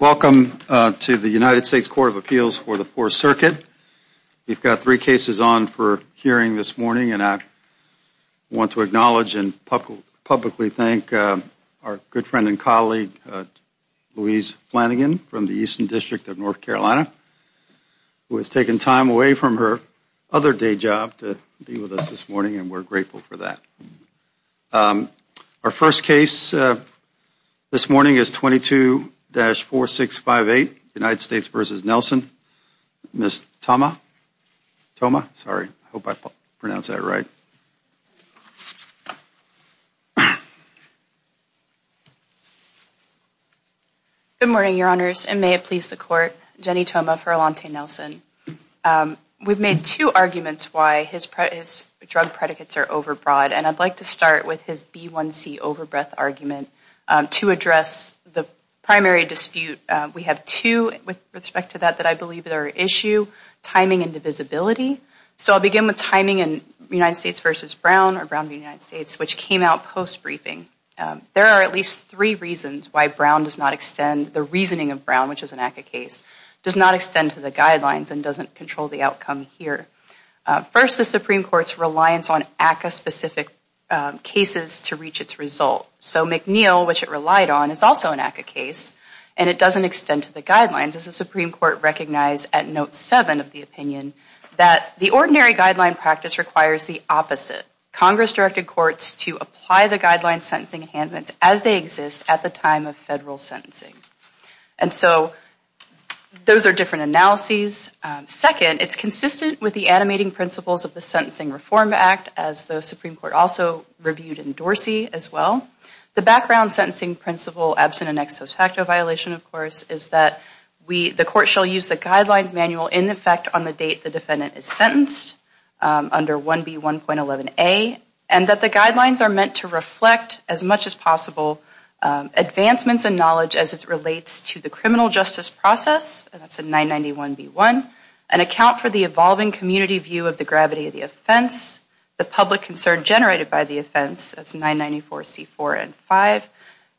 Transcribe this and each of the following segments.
Welcome to the United States Court of Appeals for the Fourth Circuit. We've got three cases on for hearing this morning, and I want to acknowledge and publicly thank our good friend and colleague, Louise Flanagan, from the Eastern District of North Carolina, who has taken time away from her other day job to be with us this morning, and we're grateful for that. Our first case this morning is 22-4658, United States v. Nelson. Ms. Thoma. Good morning, Your Honors, and may it please the Court. Jenny Thoma for Alante Nelson. We've made two arguments why his drug predicates are overbroad, and I'd like to start with his B1c overbreath argument to address the primary dispute. We have two with respect to that that I believe are an issue, timing and divisibility. So I'll begin with timing in United States v. Brown or Brown v. United States, which came out post-briefing. There are at least three reasons why Brown does not extend to the guidelines and doesn't control the outcome here. First, the Supreme Court's reliance on ACCA-specific cases to reach its result. So McNeil, which it relied on, is also an ACCA case, and it doesn't extend to the guidelines, as the Supreme Court recognized at note seven of the opinion that the ordinary guideline practice requires the opposite. Congress directed courts to apply the guidelines, sentencing, and handments as they exist at the time of federal sentencing. And so those are different analyses. Second, it's consistent with the animating principles of the Sentencing Reform Act, as the Supreme Court also reviewed in Dorsey as well. The background sentencing principle, absent an ex post facto violation, of course, is that the Court shall use the guidelines manual in effect on the date the offense was commenced under 1B1.11a, and that the guidelines are meant to reflect as much as possible advancements in knowledge as it relates to the criminal justice process, and that's in 991B1, and account for the evolving community view of the gravity of the offense, the public concern generated by the offense, that's 994C4N5,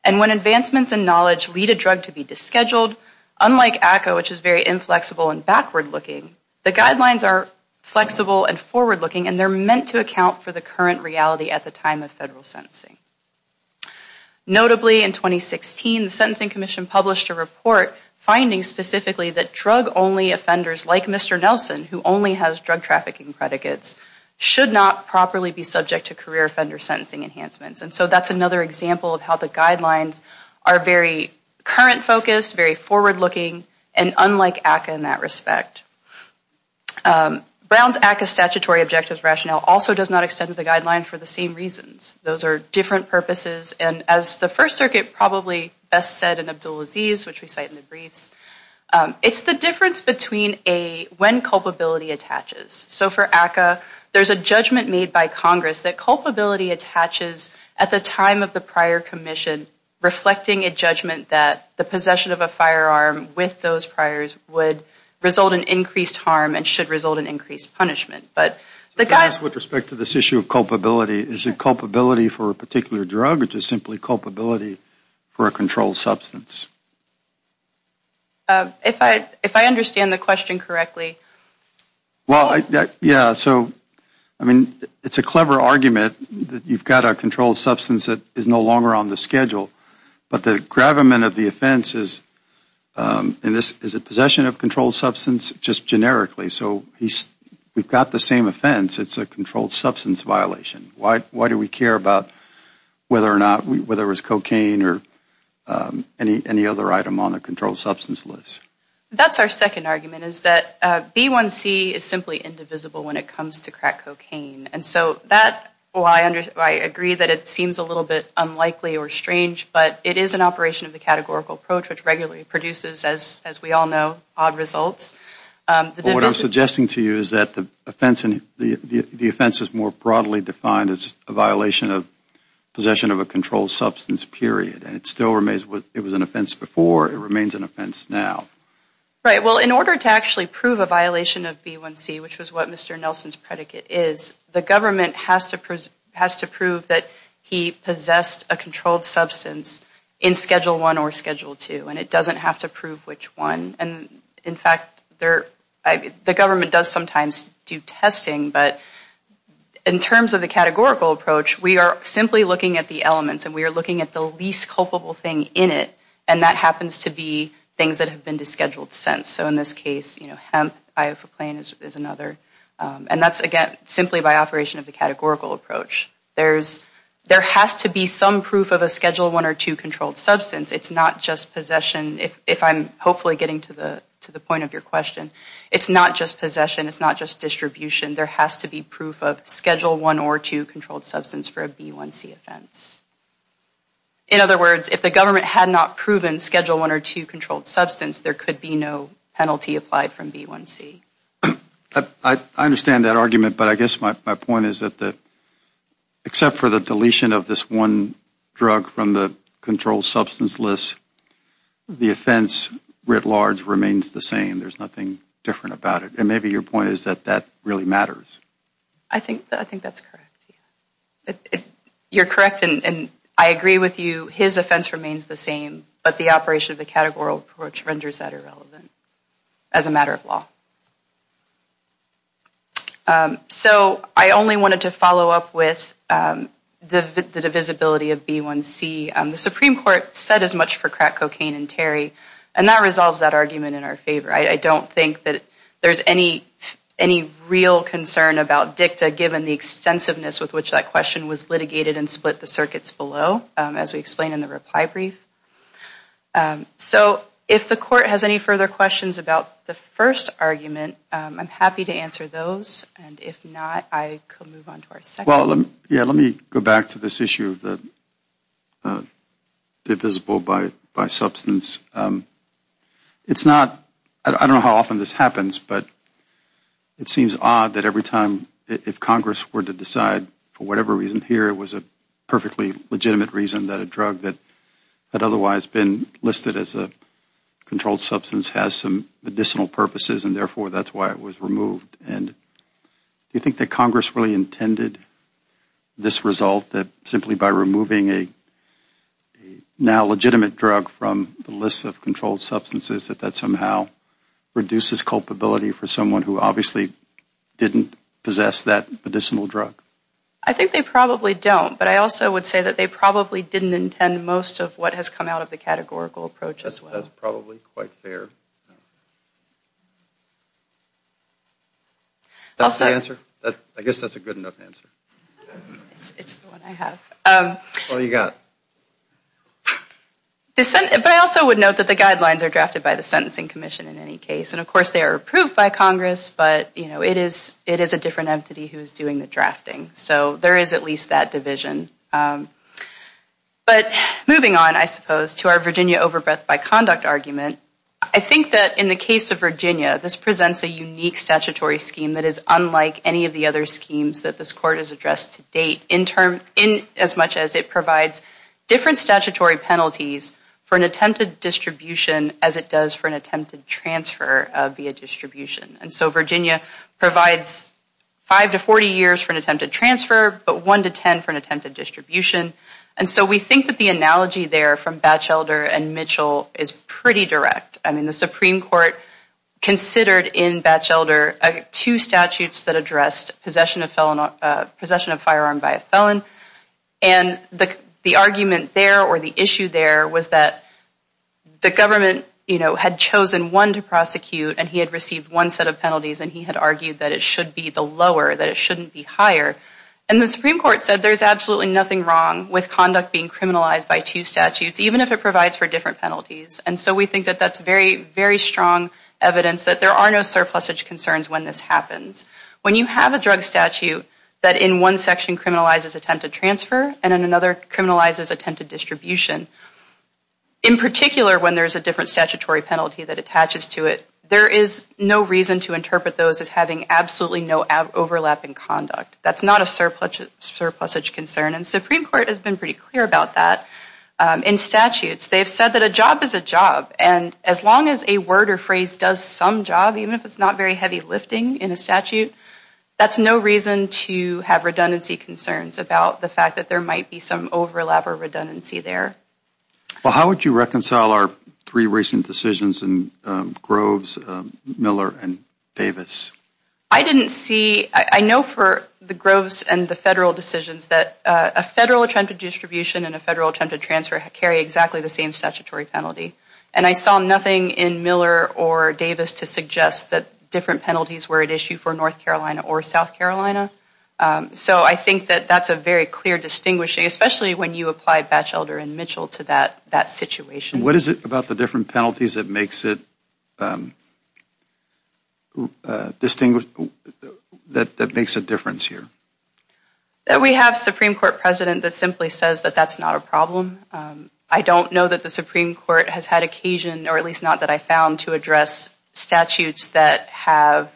and when advancements in knowledge lead a drug to be disscheduled, unlike ACCA, which is very inflexible and backward-looking, the guidelines are flexible and forward-looking, and they're meant to account for the current reality at the time of federal sentencing. Notably, in 2016, the Sentencing Commission published a report finding specifically that drug-only offenders, like Mr. Nelson, who only has drug trafficking predicates, should not properly be subject to career offender sentencing enhancements. And so that's another example of how the guidelines are very current-focused, very forward-looking, and unlike ACCA in that respect. Brown's ACCA statutory objectives rationale also does not extend to the guidelines for the same reasons. Those are different purposes, and as the First Circuit probably best said in Abdulaziz, which we cite in the briefs, it's the difference between a when culpability attaches. So for ACCA, there's a judgment made by Congress that culpability attaches at the time of the prior commission, reflecting a judgment that the possession of a firearm with those priors would result in increased harm and should result in increased punishment. But the guidelines... With respect to this issue of culpability, is it culpability for a particular drug, or is it simply culpability for a controlled substance? If I understand the question correctly... Well, yeah, so, I mean, it's a clever argument that you've got a controlled substance that is no longer on the schedule, but the gravamen of the offense is, is it possession of controlled substance just generically? So we've got the same offense, it's a controlled substance violation. Why do we care about whether or not, whether it was cocaine or any other item on the controlled substance list? That's our second argument, is that B1C is simply indivisible when it comes to I agree that it seems a little bit unlikely or strange, but it is an operation of the categorical approach, which regularly produces, as we all know, odd results. But what I'm suggesting to you is that the offense is more broadly defined as a violation of possession of a controlled substance period, and it still remains, it was an offense before, it remains an offense now. Right, well, in order to actually prove a violation of B1C, which was what Mr. Nelson's doing, he has to prove that he possessed a controlled substance in Schedule I or Schedule II, and it doesn't have to prove which one. And, in fact, the government does sometimes do testing, but in terms of the categorical approach, we are simply looking at the elements, and we are looking at the least culpable thing in it, and that happens to be things that have been descheduled since. So in this case, you know, hemp, iofoclain is another, and that's again simply by operation of the categorical approach. There has to be some proof of a Schedule I or II controlled substance. It's not just possession, if I'm hopefully getting to the point of your question. It's not just possession. It's not just distribution. There has to be proof of Schedule I or II controlled substance for a B1C offense. In other words, if the government had not proven Schedule I or II controlled substance, there could be no penalty applied from B1C. I understand that argument, but I guess my point is that except for the deletion of this one drug from the controlled substance list, the offense writ large remains the same. There's nothing different about it. And maybe your point is that that really matters. I think that's correct. You're correct, and I agree with you. His offense remains the same, but the operation of the categorical approach renders that irrelevant as a matter of law. So I only wanted to follow up with the divisibility of B1C. The Supreme Court said as much for crack, cocaine, and tarry, and that resolves that argument in our favor. I don't think that there's any real concern about dicta, given the extensiveness with which that question was litigated and So if the court has any further questions about the first argument, I'm happy to answer those, and if not, I could move on to our second. Let me go back to this issue of divisible by substance. It's not, I don't know how often this happens, but it seems odd that every time, if Congress were to decide for whatever reason here, it was a perfectly legitimate reason that a drug that had otherwise been listed as a controlled substance has some medicinal purposes, and therefore that's why it was removed. And do you think that Congress really intended this result, that simply by removing a now legitimate drug from the list of controlled substances, that that somehow reduces culpability for someone who obviously didn't possess that medicinal drug? I think they probably don't, but I also would say that they probably didn't intend most of what has come out of the categorical approach as well. That's probably quite fair. That's the answer? I guess that's a good enough answer. It's the one I have. What do you got? But I also would note that the guidelines are drafted by the Sentencing Commission in any case, and of course they are approved by Congress, but it is a different entity who is doing the drafting. So there is at least that division. But moving on, I suppose, to our Virginia overbreadth by conduct argument, I think that in the case of Virginia, this presents a unique statutory scheme that is unlike any of the other schemes that this Court has addressed to date, as much as it provides different statutory penalties for an attempted distribution as it does for an attempted transfer via possession of firearm by a felon. And the argument there, or the issue there, was that the government, you know, had chosen one to prosecute, and he had said there is absolutely nothing wrong with conduct being criminalized by two statutes, even if it provides for different penalties. And so we think that that's very, very strong evidence that there are no surplusage concerns when this happens. When you have a drug statute that in one section criminalizes attempted transfer, and in another criminalizes attempted distribution, in particular when there is a different statutory penalty that attaches to it, there is no reason to interpret those as having absolutely no overlap in conduct. That's not a surplusage concern. And the Supreme Court has been pretty clear about that. In statutes, they have said that a job is a job. And as long as a word or phrase does some job, even if it's not very heavy lifting in a statute, that's no reason to have redundancy concerns about the fact that there might be some overlap or redundancy there. Well, how would you reconcile our three recent decisions in Groves, Miller, and Davis? I didn't see, I know for the Groves and the federal decisions that a federal attempted distribution and a federal attempted transfer carry exactly the same statutory penalty. And I saw nothing in Miller or Davis to suggest that different penalties were at issue for North Carolina or South Carolina. So I think that that's a very clear distinguishing, especially when you apply Batchelder and Mitchell to that situation. What is it about the different penalties that makes it distinguish, that makes a difference here? We have a Supreme Court president that simply says that that's not a problem. I don't know that the Supreme Court has had occasion, or at least not that I found, to address statutes that have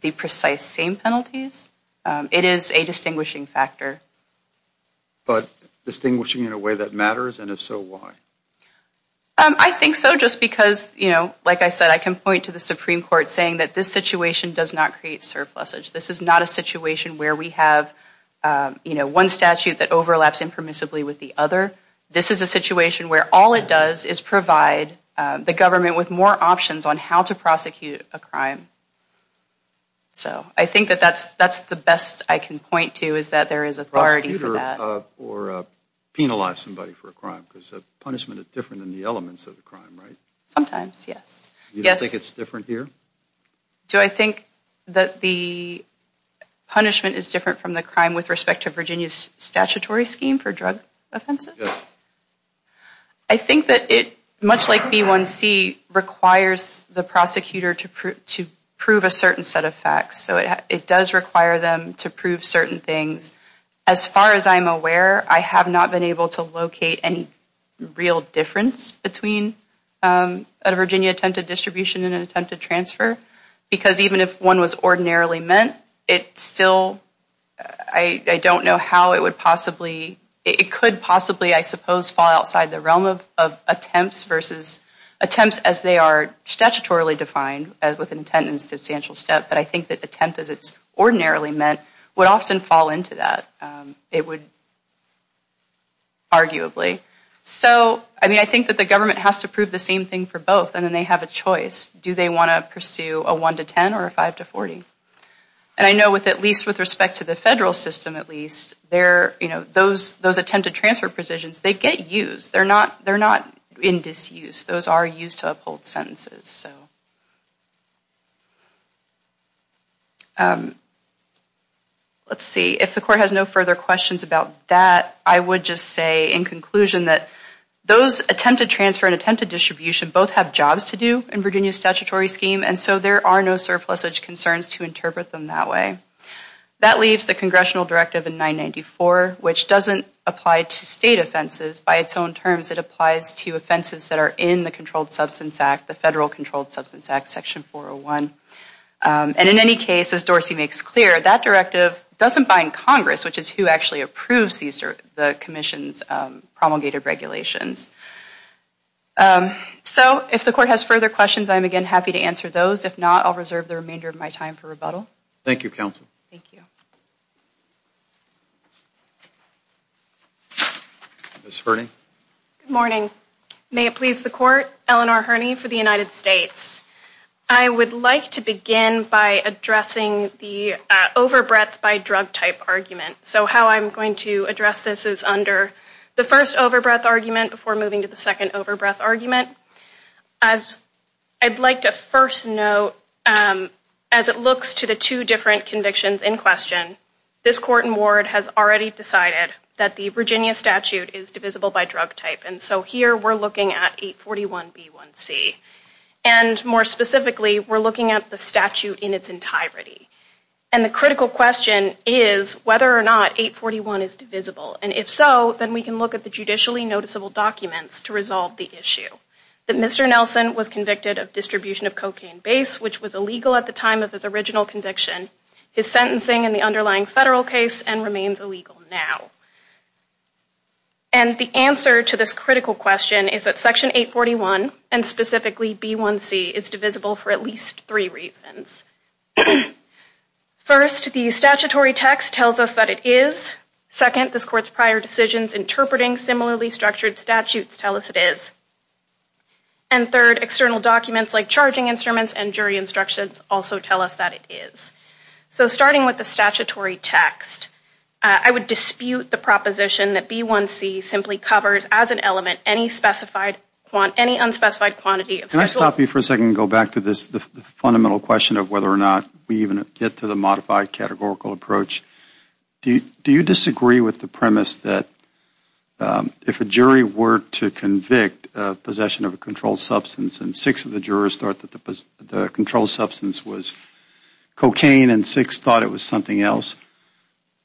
the precise same penalties. It is a distinguishing factor. But distinguishing in a way that matters, and if so, why? I think so just because, you know, like I said, I can point to the Supreme Court saying that this situation does not create surpluses. This is not a situation where we have, you know, one statute that overlaps impermissibly with the other. This is a situation where all it does is provide the government with more options on how to prosecute a crime. So I think that that's the best I can point to, is that the Supreme Court has said that there is authority for that. Do you think it's different here? Do I think that the punishment is different from the crime with respect to Virginia's statutory scheme for drug offenses? I think that it, much like B1C, requires the prosecutor to prove a certain set of facts. So it does require them to prove certain things. As far as I'm aware, I have not been able to locate any real difference between a Virginia attempted distribution and an attempted transfer, because even if one was ordinarily meant, it still, I don't know how it would possibly, it could possibly, I suppose, fall outside the realm of attempts versus, attempts as they are statutorily defined, as with an attempted substantial step, but I think that attempt as it's ordinarily meant would often fall into that. It would, arguably. So, I mean, I think that the government has to prove the same thing for both, and then they have a choice. Do they want to pursue a 1 to 10 or a 5 to 40? And I know with, at least with respect to the federal system, at least, there, you know, those, those attempted transfer positions, they get used. They're not, they're not in disuse. Those are used to uphold sentences. So, let's see, if the court has no further questions about that, I would just say in conclusion that those attempted transfer and attempted distribution both have jobs to do in Virginia's statutory scheme, and so there are no surplusage concerns to interpret them that way. That leaves the congressional directive in 994, which doesn't apply to state offenses. By its own terms, it applies to offenses that are in the Controlled Substance Act, the Federal Controlled Substance Act, Section 401. And in any case, as Dorsey makes clear, that directive doesn't bind Congress, which is who actually approves these, the Commission's promulgated regulations. So, if the court has further questions, I'm, again, happy to answer those. If not, I'll reserve the remainder of my time for rebuttal. Thank you, counsel. Thank you. Ms. Hurney. Good morning. May it please the Court that I have the honor of presenting to you the Court Eleanor Hurney for the United States. I would like to begin by addressing the overbreadth by drug type argument. So, how I'm going to address this is under the first overbreadth argument before moving to the second overbreadth argument. I'd like to first note, as it looks to the two different convictions in question, this court and ward has already decided that the Virginia statute is divisible by drug type. And so, here, we're looking at 841B1C. And, more specifically, we're looking at the statute in its entirety. And the critical question is whether or not 841 is divisible. And if so, then we can look at the judicially noticeable documents to resolve the issue. That Mr. Nelson was convicted of distribution of cocaine base, which was illegal now. And the answer to this critical question is that Section 841, and specifically B1C, is divisible for at least three reasons. First, the statutory text tells us that it is. Second, this court's prior decisions interpreting similarly structured statutes tell us it is. And third, external documents like charging instruments and jury instructions also tell us that it is. So, starting with the statutory text, I would dispute the proposition that B1C simply covers, as an element, any unspecified quantity. Can I stop you for a second and go back to the fundamental question of whether or not we even get to the modified categorical approach? Do you disagree with the premise that if a jury were to convict possession of a controlled substance and six of the jurors thought that the controlled substance was cocaine and six thought it was something else,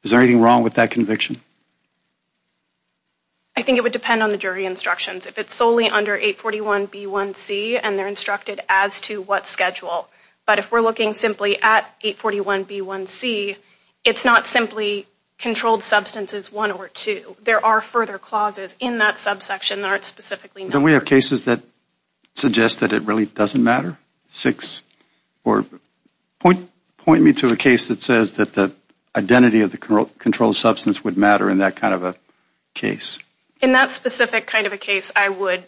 is there anything wrong with that conviction? I think it would depend on the jury instructions. If it's solely under 841 B1C and they're instructed as to what schedule. But if we're looking simply at 841 B1C, it's not simply controlled substances one or two. There are further clauses in that subsection that aren't specifically. Don't we have cases that suggest that it really doesn't matter? Point me to a case that says that the identity of the controlled substance would matter in that kind of a case. In that specific kind of a case, I would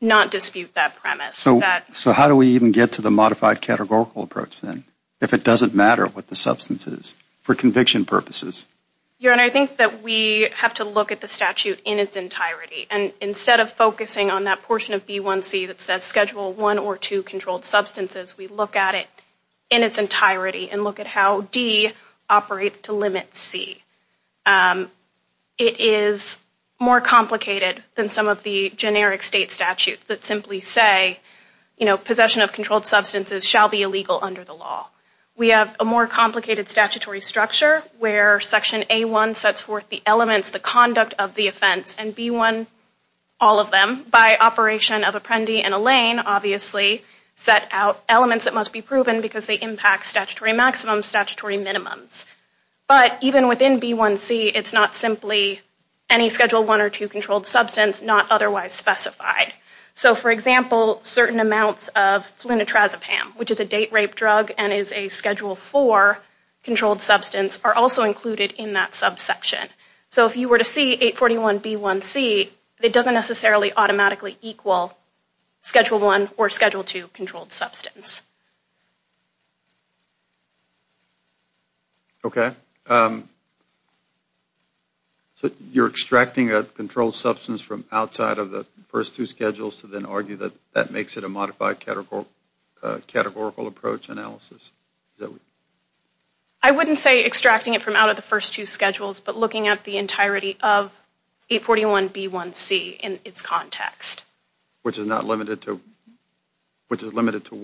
not dispute that premise. So how do we even get to the modified categorical approach then if it doesn't matter what the substance is for conviction purposes? Your Honor, I think that we have to look at the statute in its entirety and instead of focusing on that portion of B1C that says schedule one or two controlled substances, we look at it in its entirety and look at how D operates to limit C. It is more complicated than some of the generic state statutes that simply say possession of controlled substances shall be illegal under the law. We have a more complicated statutory structure where Section A1 sets forth the elements, the conduct of the offense, and B1, all of them, by operation of Apprendi and Allain, obviously set out elements that must be proven because they impact statutory maximums, statutory minimums. But even within B1C, it's not simply any schedule one or two controlled substance, not otherwise specified. So for example, certain amounts of Flunitrazepam, which is a date rape drug and is a schedule four controlled substance, are also included in that subsection. So if you were to see 841B1C, it doesn't necessarily automatically equal schedule one or schedule two controlled substance. Okay. So you're extracting a controlled substance from outside of the first two schedules to then argue that that makes it a modified categorical approach analysis? I wouldn't say extracting it from out of the first two schedules, but looking at the entirety of 841B1C in its context. Which is limited to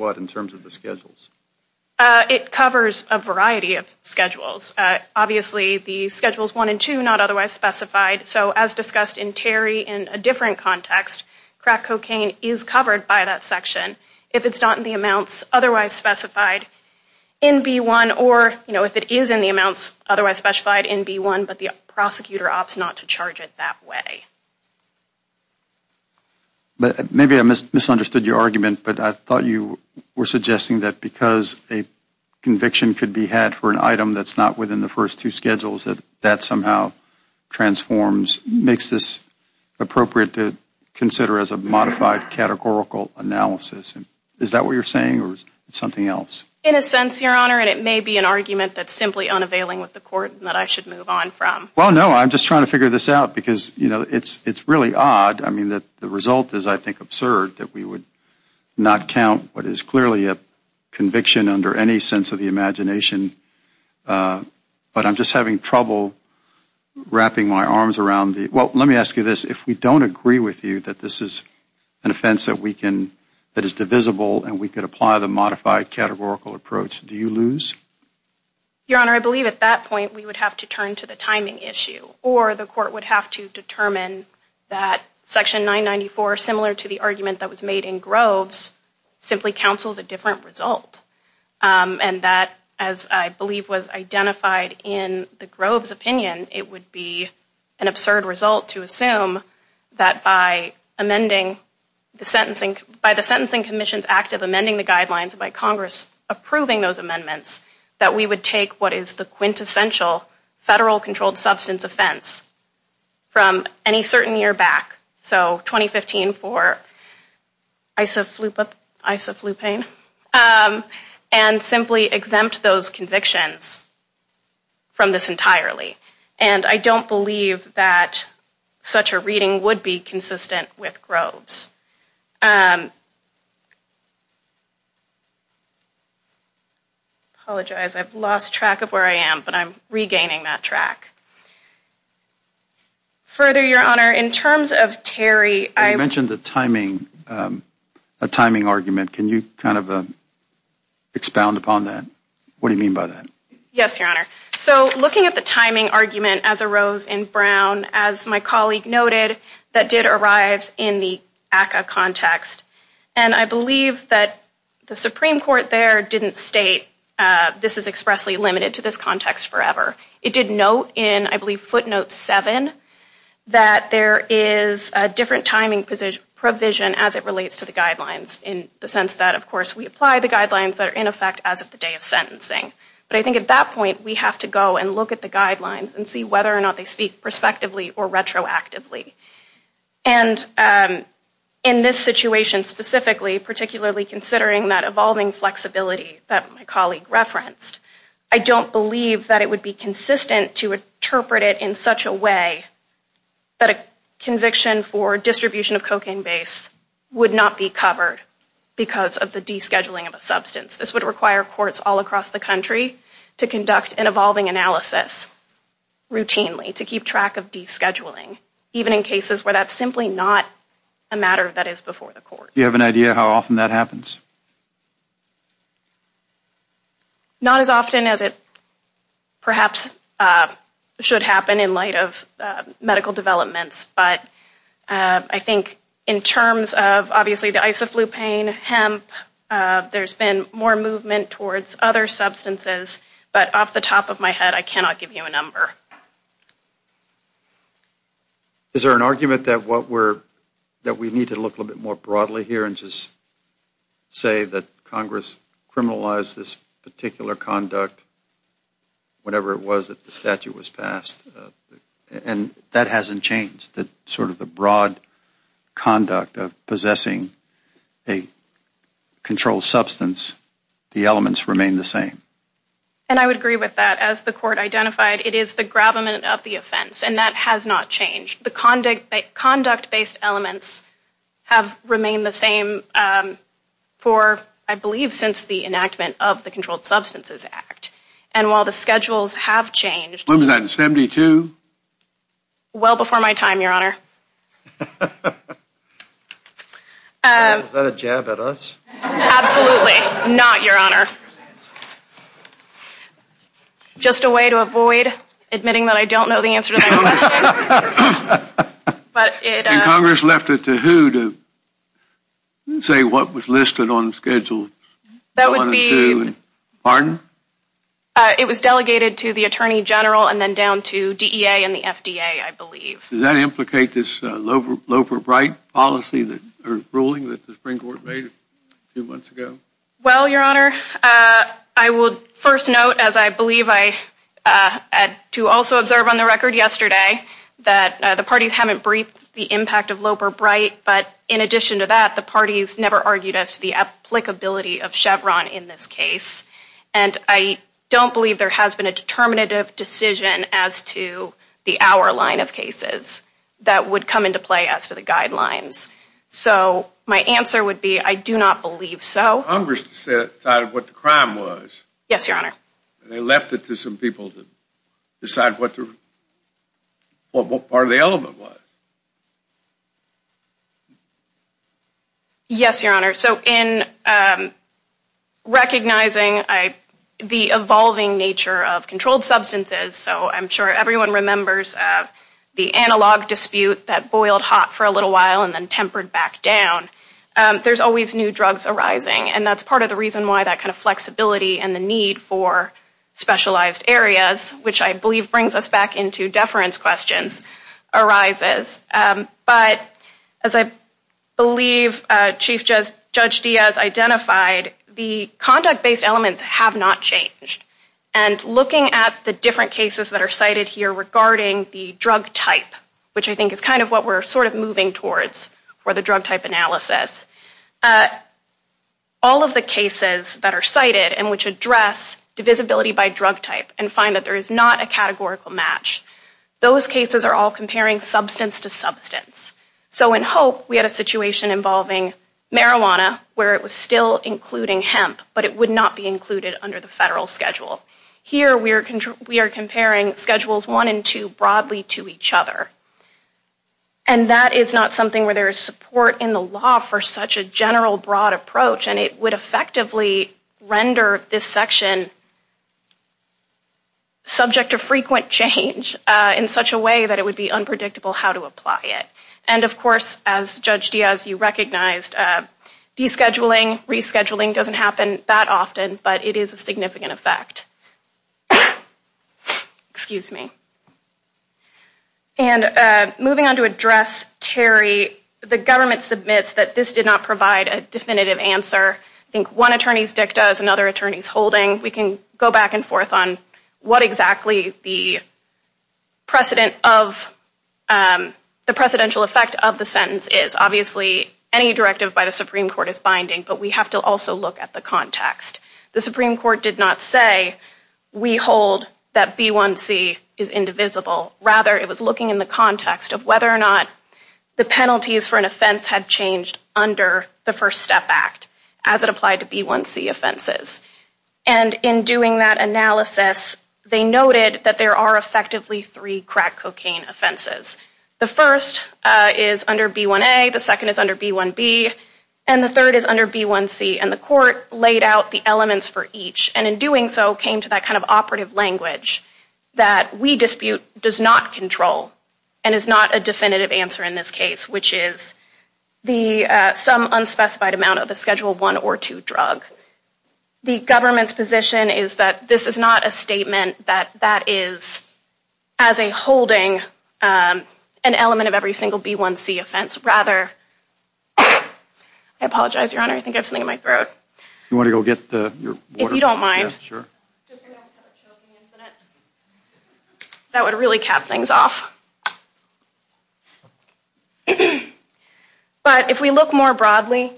what in terms of the schedules? It covers a variety of schedules. Obviously the schedules one and two are not otherwise specified. So as discussed in Terry, in a different context, crack cocaine is covered by that section if it's not in the amounts otherwise specified in B1 or if it is in the amounts otherwise specified in B1, but the prosecutor opts not to charge it that way. Maybe I misunderstood your argument, but I thought you were suggesting that because a conviction could be had for an appropriate to consider as a modified categorical analysis. Is that what you're saying or is it something else? In a sense, Your Honor, and it may be an argument that's simply unavailing with the court and that I should move on from. Well, no, I'm just trying to figure this out because, you know, it's really odd. I mean, the result is, I think, absurd that we would not count what is clearly a conviction under any sense of the imagination. But I'm just having trouble wrapping my arms around the, well, let me ask you this. If we don't agree with you that this is an offense that we can, that is divisible and we could apply the modified categorical approach, do you lose? Your Honor, I believe at that point we would have to turn to the timing issue or the court would have to determine that Section 994, similar to the argument that was made in Groves, simply counsels a different result. And that, as I believe was identified in the Groves opinion, it would be an absurd result to assume that by amending the sentencing, by the Sentencing Commission's act of amending the guidelines, by Congress approving those amendments, that we would take what is the quintessential federal controlled substance offense from any certain year back. So 2015 for isoflupine, and simply exempt those convictions from this entirely. And I don't believe that such a reading would be consistent with Groves. Apologize, I've lost track of where I am, but I'm regaining that track. Further, Your Honor, in terms of Terry, I mentioned the timing, a timing argument. Can you kind of expound upon that? What do you mean by that? Yes, Your Honor. So looking at the timing argument as arose in Brown, as my colleague noted, that did arrive in the ACCA context. And I believe that the Supreme Court there didn't state this is expressly limited to this context forever. It did note in, I believe, footnote 7, that there is a different timing provision as it relates to the guidelines, in the sense that, of course, we apply the guidelines that are in effect as of the day of sentencing. But I think at that point we have to go and look at the guidelines and see whether or not they speak prospectively or retroactively. And in this situation specifically, particularly considering that evolving flexibility that my colleague referenced, I don't believe that it would be consistent to interpret it in such a way that a conviction for distribution of cocaine base would not be covered because of the descheduling of a substance. This would require courts all across the country to conduct an evolving analysis routinely to keep track of descheduling, even in cases where that's simply not a matter that is before the court. Do you have an idea how often that happens? Not as often as it perhaps should happen in light of medical developments. But I think in terms of obviously the isoflupine, hemp, there's been more movement towards other substances. But off the top of my head, I cannot give you a number. Is there an argument that we need to look a little bit more broadly here and just say that Congress criminalized this particular conduct, whatever it was that the statute was passed, and that hasn't changed? Sort of the broad conduct of possessing a controlled substance, the elements remain the same? And I would agree with that. As the court identified, it is the gravamen of the offense, and that has not changed. The conduct-based elements have remained the same for, I believe, since the enactment of the Controlled Substances Act. And while the schedules have changed... Well before my time, Your Honor. Is that a jab at us? Absolutely not, Your Honor. Just a way to avoid admitting that I don't know the answer to that question. And Congress left it to who to say what was listed on the schedule? It was delegated to the Attorney General and then down to DEA and the FDA, I believe. Does that implicate this Loper-Bright ruling that the Supreme Court made a few months ago? Well, Your Honor, I would first note, as I believe I had to also observe on the record yesterday, that the parties haven't briefed the impact of Loper-Bright, but in addition to that, the parties never argued as to the applicability of Chevron in this case. And I don't believe there has been a determinative decision as to the hour line of cases that would come into play as to the guidelines. So my answer would be, I do not believe so. Congress decided what the crime was. And they left it to some people to decide what part of the element was. Yes, Your Honor. So in recognizing the evolving nature of controlled substances, so I'm sure everyone remembers the analog dispute that boiled hot for a little while and then tempered back down, there's always new drugs arising, and that's part of the reason why that kind of flexibility and the need for specialized areas, which I believe brings us back into deference questions, arises. But as I believe Chief Judge Diaz identified, the conduct-based elements have not changed. And looking at the different cases that are cited here regarding the drug type, which I think is kind of what we're sort of moving towards for the drug type analysis, all of the cases that are cited and which address divisibility by drug type and find that there is not a categorical match, those cases are all comparing substance to substance. So in Hope, we had a situation involving marijuana where it was still including hemp, but it would not be included under the federal schedule. Here we are comparing schedules one and two broadly to each other. And that is not something where there is support in the law for such a general broad approach, and it would effectively render this section subject to frequent change in such a way that it would be unpredictable how to apply it. And of course, as Judge Diaz, you recognized, descheduling, rescheduling doesn't happen that often, but it is a significant effect. Excuse me. And moving on to address Terry, the government submits that this did not provide a definitive answer. I think one attorney's dicta is another attorney's holding. We can go back and forth on what exactly the precedence of, the precedential effect of the sentence is. Obviously, any directive by the Supreme Court is binding, but we have to also look at the context. The Supreme Court did not say, we hold that B1C is indivisible. Rather, it was looking in the context of whether or not the penalties for an offense had changed under the First Step Act as it applied to B1C offenses. And in doing that analysis, they noted that there are effectively three crack cocaine offenses. The first is under B1A, the second is under B1B, and the third is under B1C. And the court laid out the elements for each, and in doing so, came to that kind of operative language that we dispute does not control and is not a definitive answer in this case, which is some unspecified amount of a Schedule I or II drug. The government's position is that this is not a statement that that is as a holding an element of every single B1C offense. I apologize, Your Honor, I think I have something in my throat. If you don't mind. That would really cap things off. But if we look more broadly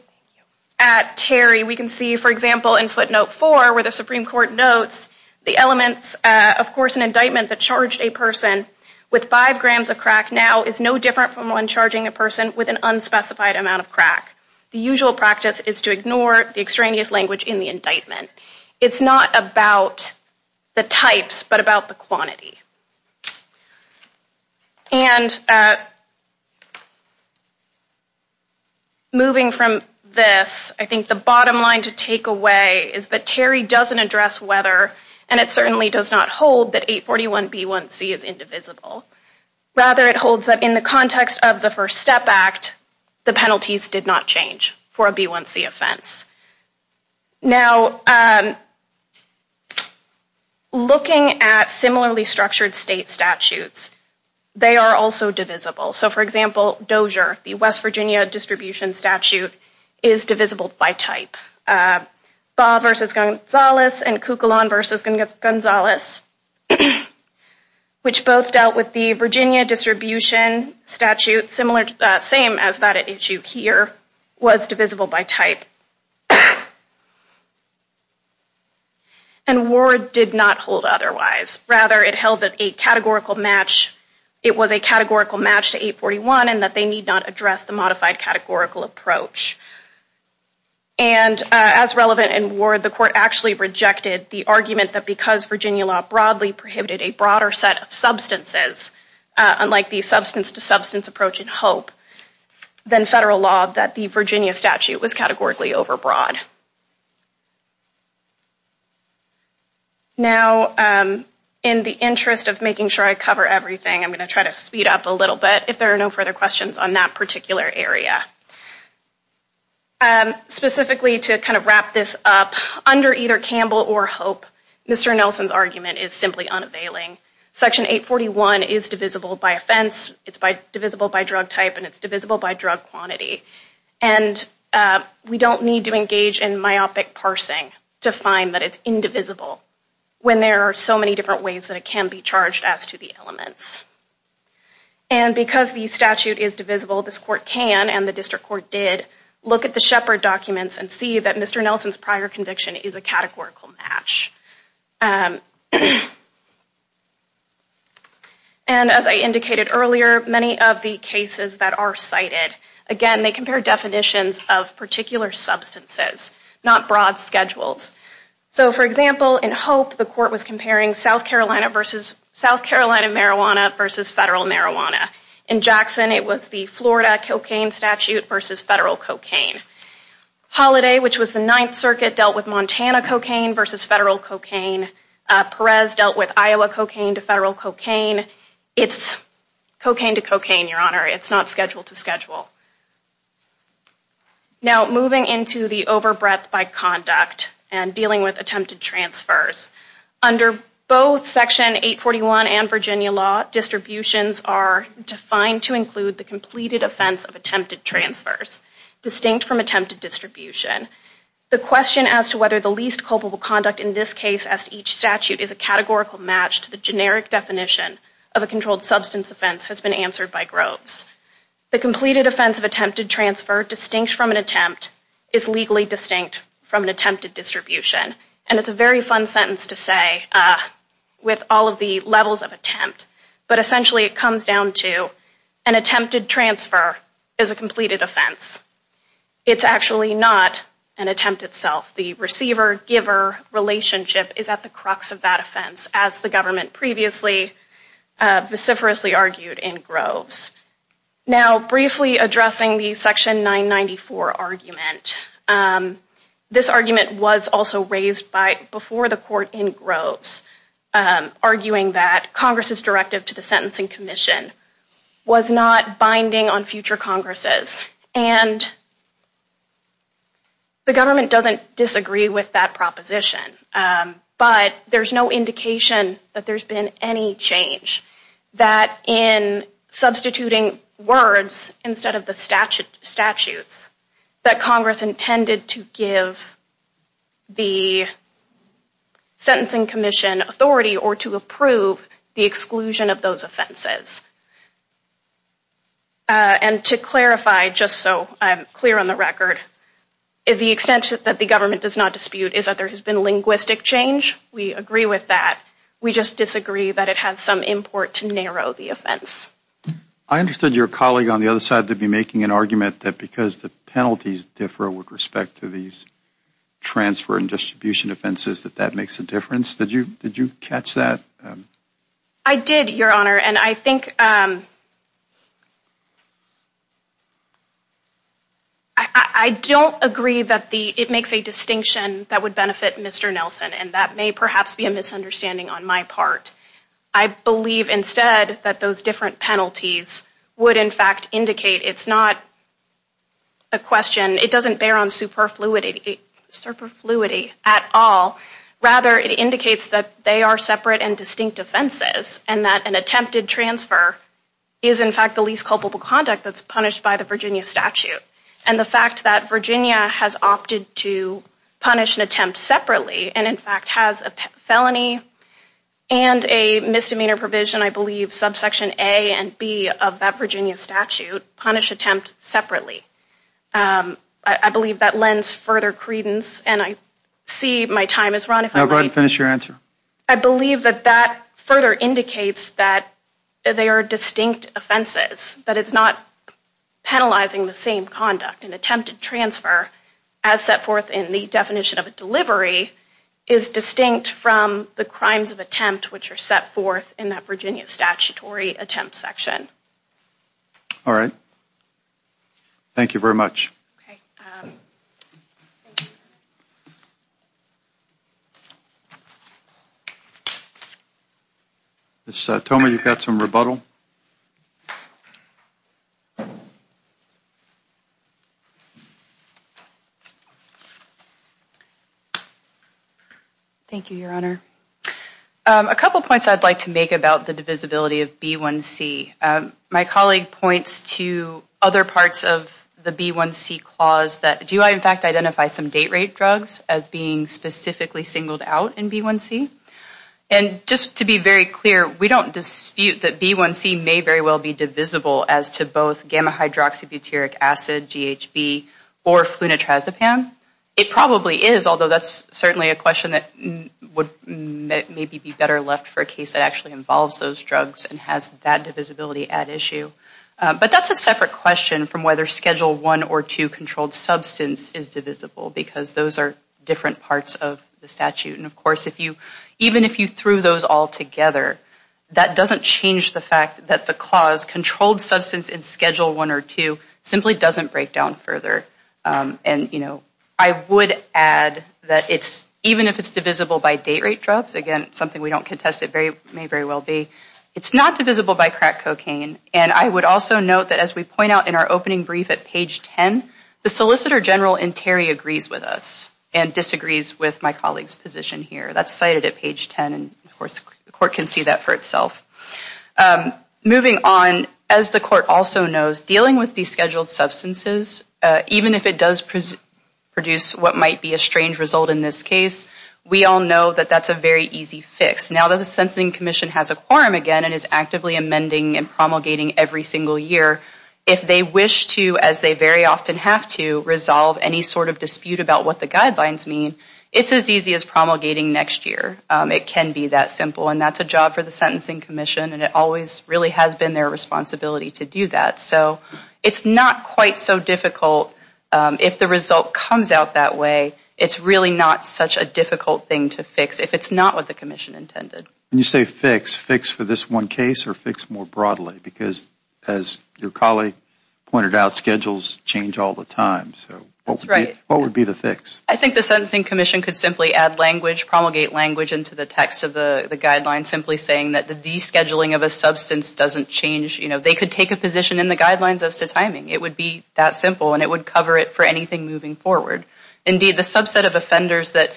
at Terry, we can see, for example, in footnote 4, where the Supreme Court notes the elements, of course, an indictment that charged a person with five grams of crack now is no different from one charging a person with an unspecified amount of crack. The usual practice is to ignore the extraneous language in the indictment. It's not about the types, but about the quantity. And moving from this, I think the bottom line to take away is that Terry doesn't address whether and it certainly does not hold that 841B1C is indivisible. Rather, it holds that in the context of the First Step Act, the penalties did not change for a B1C offense. Now, looking at similarly structured state statutes, they are also divisible. So, for example, Dozier, the West Virginia distribution statute, is divisible by type. Baugh v. Gonzalez and Kukalon v. Gonzalez, which both dealt with the Virginia distribution statute, similar, same as that at issue here, was divisible by type. And Ward did not hold otherwise. Rather, it held that a categorical match, it was a categorical match to 841 and that they need not address the modified categorical approach. And as relevant in Ward, the court actually rejected the argument that because Virginia law broadly prohibited a broader set of substances, unlike the substance-to-substance approach in Hope, then federal law that the Virginia statute was categorically overbroad. Now, in the interest of making sure I cover everything, I'm going to try to speed up a little bit if there are no further questions on that particular area. Specifically, to kind of wrap this up, under either Campbell or Hope, Mr. Nelson's argument is simply unavailing. Section 841 is divisible by offense, it's divisible by drug type, and it's divisible by drug quantity. And we don't need to engage in myopic parsing to find that it's indivisible when there are so many different ways that it can be charged as to the elements. And because the statute is divisible, this court can, and the district court did, look at the Shepard documents and see that Mr. Nelson's prior conviction is a categorical match. And as I indicated earlier, many of the cases that are cited, again, they compare definitions of particular substances, not broad schedules. So, for example, in Hope, the court was comparing South Carolina marijuana versus federal marijuana. In Jackson, it was the Florida cocaine statute versus federal cocaine. Holiday, which was the Ninth Circuit, dealt with Montana cocaine versus federal cocaine. Perez dealt with Iowa cocaine to federal cocaine. It's over breadth by conduct and dealing with attempted transfers. Under both Section 841 and Virginia law, distributions are defined to include the completed offense of attempted transfers, distinct from attempted distribution. The question as to whether the least culpable conduct in this case as to each statute is a categorical match to the generic definition of a controlled substance offense has been answered by Groves. The completed offense of attempted transfer, distinct from an attempt, is legally distinct from an attempted distribution. And it's a very fun sentence to say with all of the levels of attempt, but essentially it comes down to an attempted transfer is a completed offense. It's actually not an attempt itself. The receiver-giver relationship is at the crux of that offense, as the government previously argued in Groves. Now briefly addressing the Section 994 argument, this argument was also raised before the court in Groves arguing that Congress's directive to the Sentencing Commission was not binding on future opposition. But there's no indication that there's been any change that in substituting words instead of the statutes, that Congress intended to give the Sentencing Commission authority or to approve the exclusion of those offenses. And to clarify, just so I'm clear on the record, the extent that the government does not dispute is that there has been linguistic change. We agree with that. We just disagree that it has some import to narrow the offense. I understood your colleague on the other side to be making an argument that because the penalties differ with respect to these exclusion offenses that that makes a difference. Did you catch that? I did, Your Honor, and I think I don't agree that it makes a distinction that would benefit Mr. Nelson, and that may perhaps be a misunderstanding on my part. I believe instead that those different penalties would in fact indicate it's not a question, it doesn't bear on superfluity, at all. Rather, it indicates that they are separate and distinct offenses and that an attempted transfer is in fact the least culpable conduct that's punished by the Virginia statute. And the fact that Virginia has opted to punish an attempt separately and in fact has a felony and a misdemeanor provision, I believe subsection A and B of that Virginia statute, punish attempt separately. I believe that lends further credence and I see my time is run. I'll go ahead and finish your answer. I believe that that further indicates that they are distinct offenses, that it's not penalizing the same conduct. An attempted transfer, as set forth in the definition of a delivery, is distinct from the crimes of attempt which are set forth in that Virginia statutory attempt section. All right. Thank you very much. Okay. Ms. Toma, you've got some rebuttal. Thank you, Your Honor. A couple points I'd like to make about the divisibility of B1C. My colleague points to other parts of the B1C clause that do I in fact identify some date rape drugs as being specifically singled out in B1C? And just to be very clear, we don't dispute that B1C may very well be divisible as to both gamma hydroxybutyric acid, GHB, or flunitrazepam. It probably is, although that's certainly a question that would maybe be better left for a case that actually involves those drugs and has that divisibility at issue. But that's a separate question from whether Schedule 1 or 2 controlled substance is divisible because those are different parts of the statute. And of course, even if you threw those all together, that doesn't change the fact that the clause controlled substance in Schedule 1 or 2 simply doesn't break down further. And I would add that even if it's divisible by date rape drugs, again, something we don't contest it may very well be, it's not divisible by crack cocaine. And I would also note that as we point out in our opening brief at page 10, the Solicitor General in Terry agrees with us and disagrees with my colleague's position here. That's cited at page 10, and of course, the court can see that for itself. Moving on, as the court also knows, dealing with descheduled substances, even if it does produce what might be a strange result in this case, we all know that that's a very easy fix. Now that the Sensing Commission has a quorum again and is actively amending and promulgating every single year, if they wish to, as they very often have to, resolve any sort of dispute about what the guidelines mean, it's as easy as promulgating next year. It can be that simple, and that's a job for the Sentencing Commission, and it always really has been their responsibility to do that. It's not quite so difficult if the result comes out that way. It's really not such a difficult thing to fix if it's not what the Commission intended. When you say fix, fix for this one case or fix more broadly, because as your colleague pointed out, schedules change all the time, so what would be the fix? I think the Sentencing Commission could simply add language, promulgate language into the text of the guidelines, simply saying that the descheduling of a substance doesn't change. They could take a position in the guidelines as to timing. It would be that simple, and it would cover it for anything moving forward. Indeed, the subset of offenders that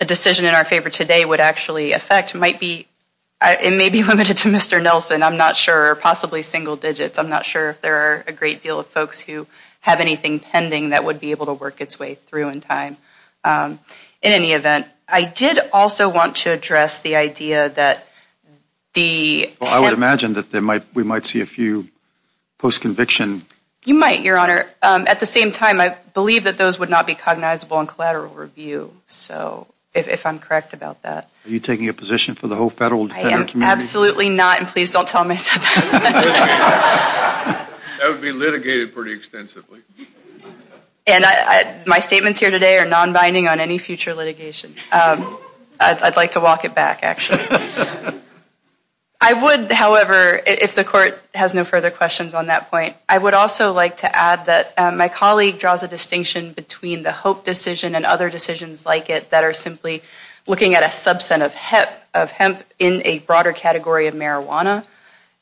a decision in our favor today would actually affect may be limited to Mr. Nelson. I'm not sure. Possibly single digits. I'm not sure if there are a great deal of folks who have anything pending that would be able to work its way through in time. In any event, I did also want to address the idea that I would imagine that we might see a few post-conviction You might, Your Honor. At the same time, I believe that those would not be cognizable in collateral review, so if I'm correct about that. Are you taking a position for the whole Federal Defender Committee? I am absolutely not, and please don't tell me. That would be litigated pretty extensively. My statements here today are non-binding on any future litigation. I'd like to walk it back, actually. I would, however, if the Court has no further questions on that point, I would also like to add that my colleague draws a distinction between the Hope decision and other decisions like it that are simply looking at a subset of hemp in a broader category of marijuana,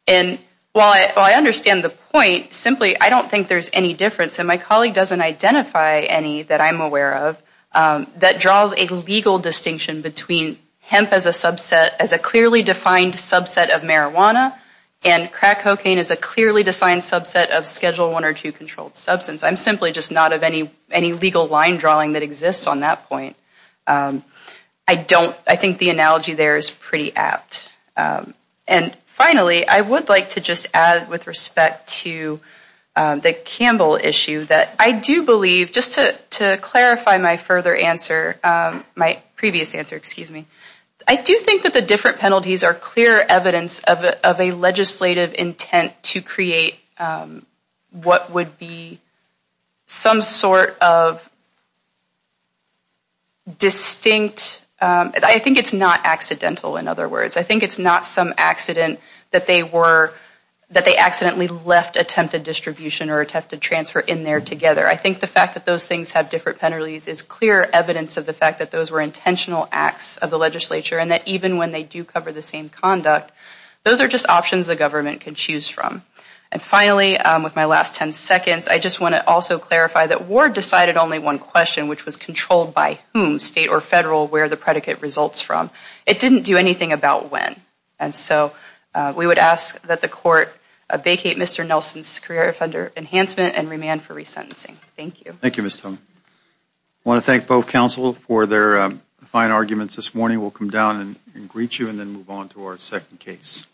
and while I understand the point, simply I don't think there's any difference, and my colleague doesn't identify any that I'm aware of, that draws a legal distinction between hemp as a clearly defined subset of marijuana and crack cocaine as a clearly defined subset of Schedule I or II controlled substance. I'm simply just not of any legal line drawing that exists on that point. I think the analogy there is pretty apt. And finally, I would like to just add with respect to the Campbell issue that I do believe, just to clarify my further answer, my previous answer, excuse me, I do think that the different penalties are clear evidence of a legislative intent to create what would be some sort of distinct, I think it's not accidental in other words. I think it's not some accident that they were, that they accidentally left attempted distribution or attempted transfer in there together. I think the fact that those things have different penalties is clear evidence of the fact that those were intentional acts of the legislature and that even when they do cover the same conduct, those are just options the government can choose from. And finally, with my last ten seconds, I just want to also clarify that Ward decided only one question, which was controlled by whom, state or federal, where the predicate results from. It didn't do anything about when. And so we would ask that the court vacate Mr. Nelson's career offender enhancement and remand for resentencing. Thank you. Thank you, Ms. Tone. I want to thank both counsel for their fine arguments this morning. We'll come down and greet you and then move on to our second case.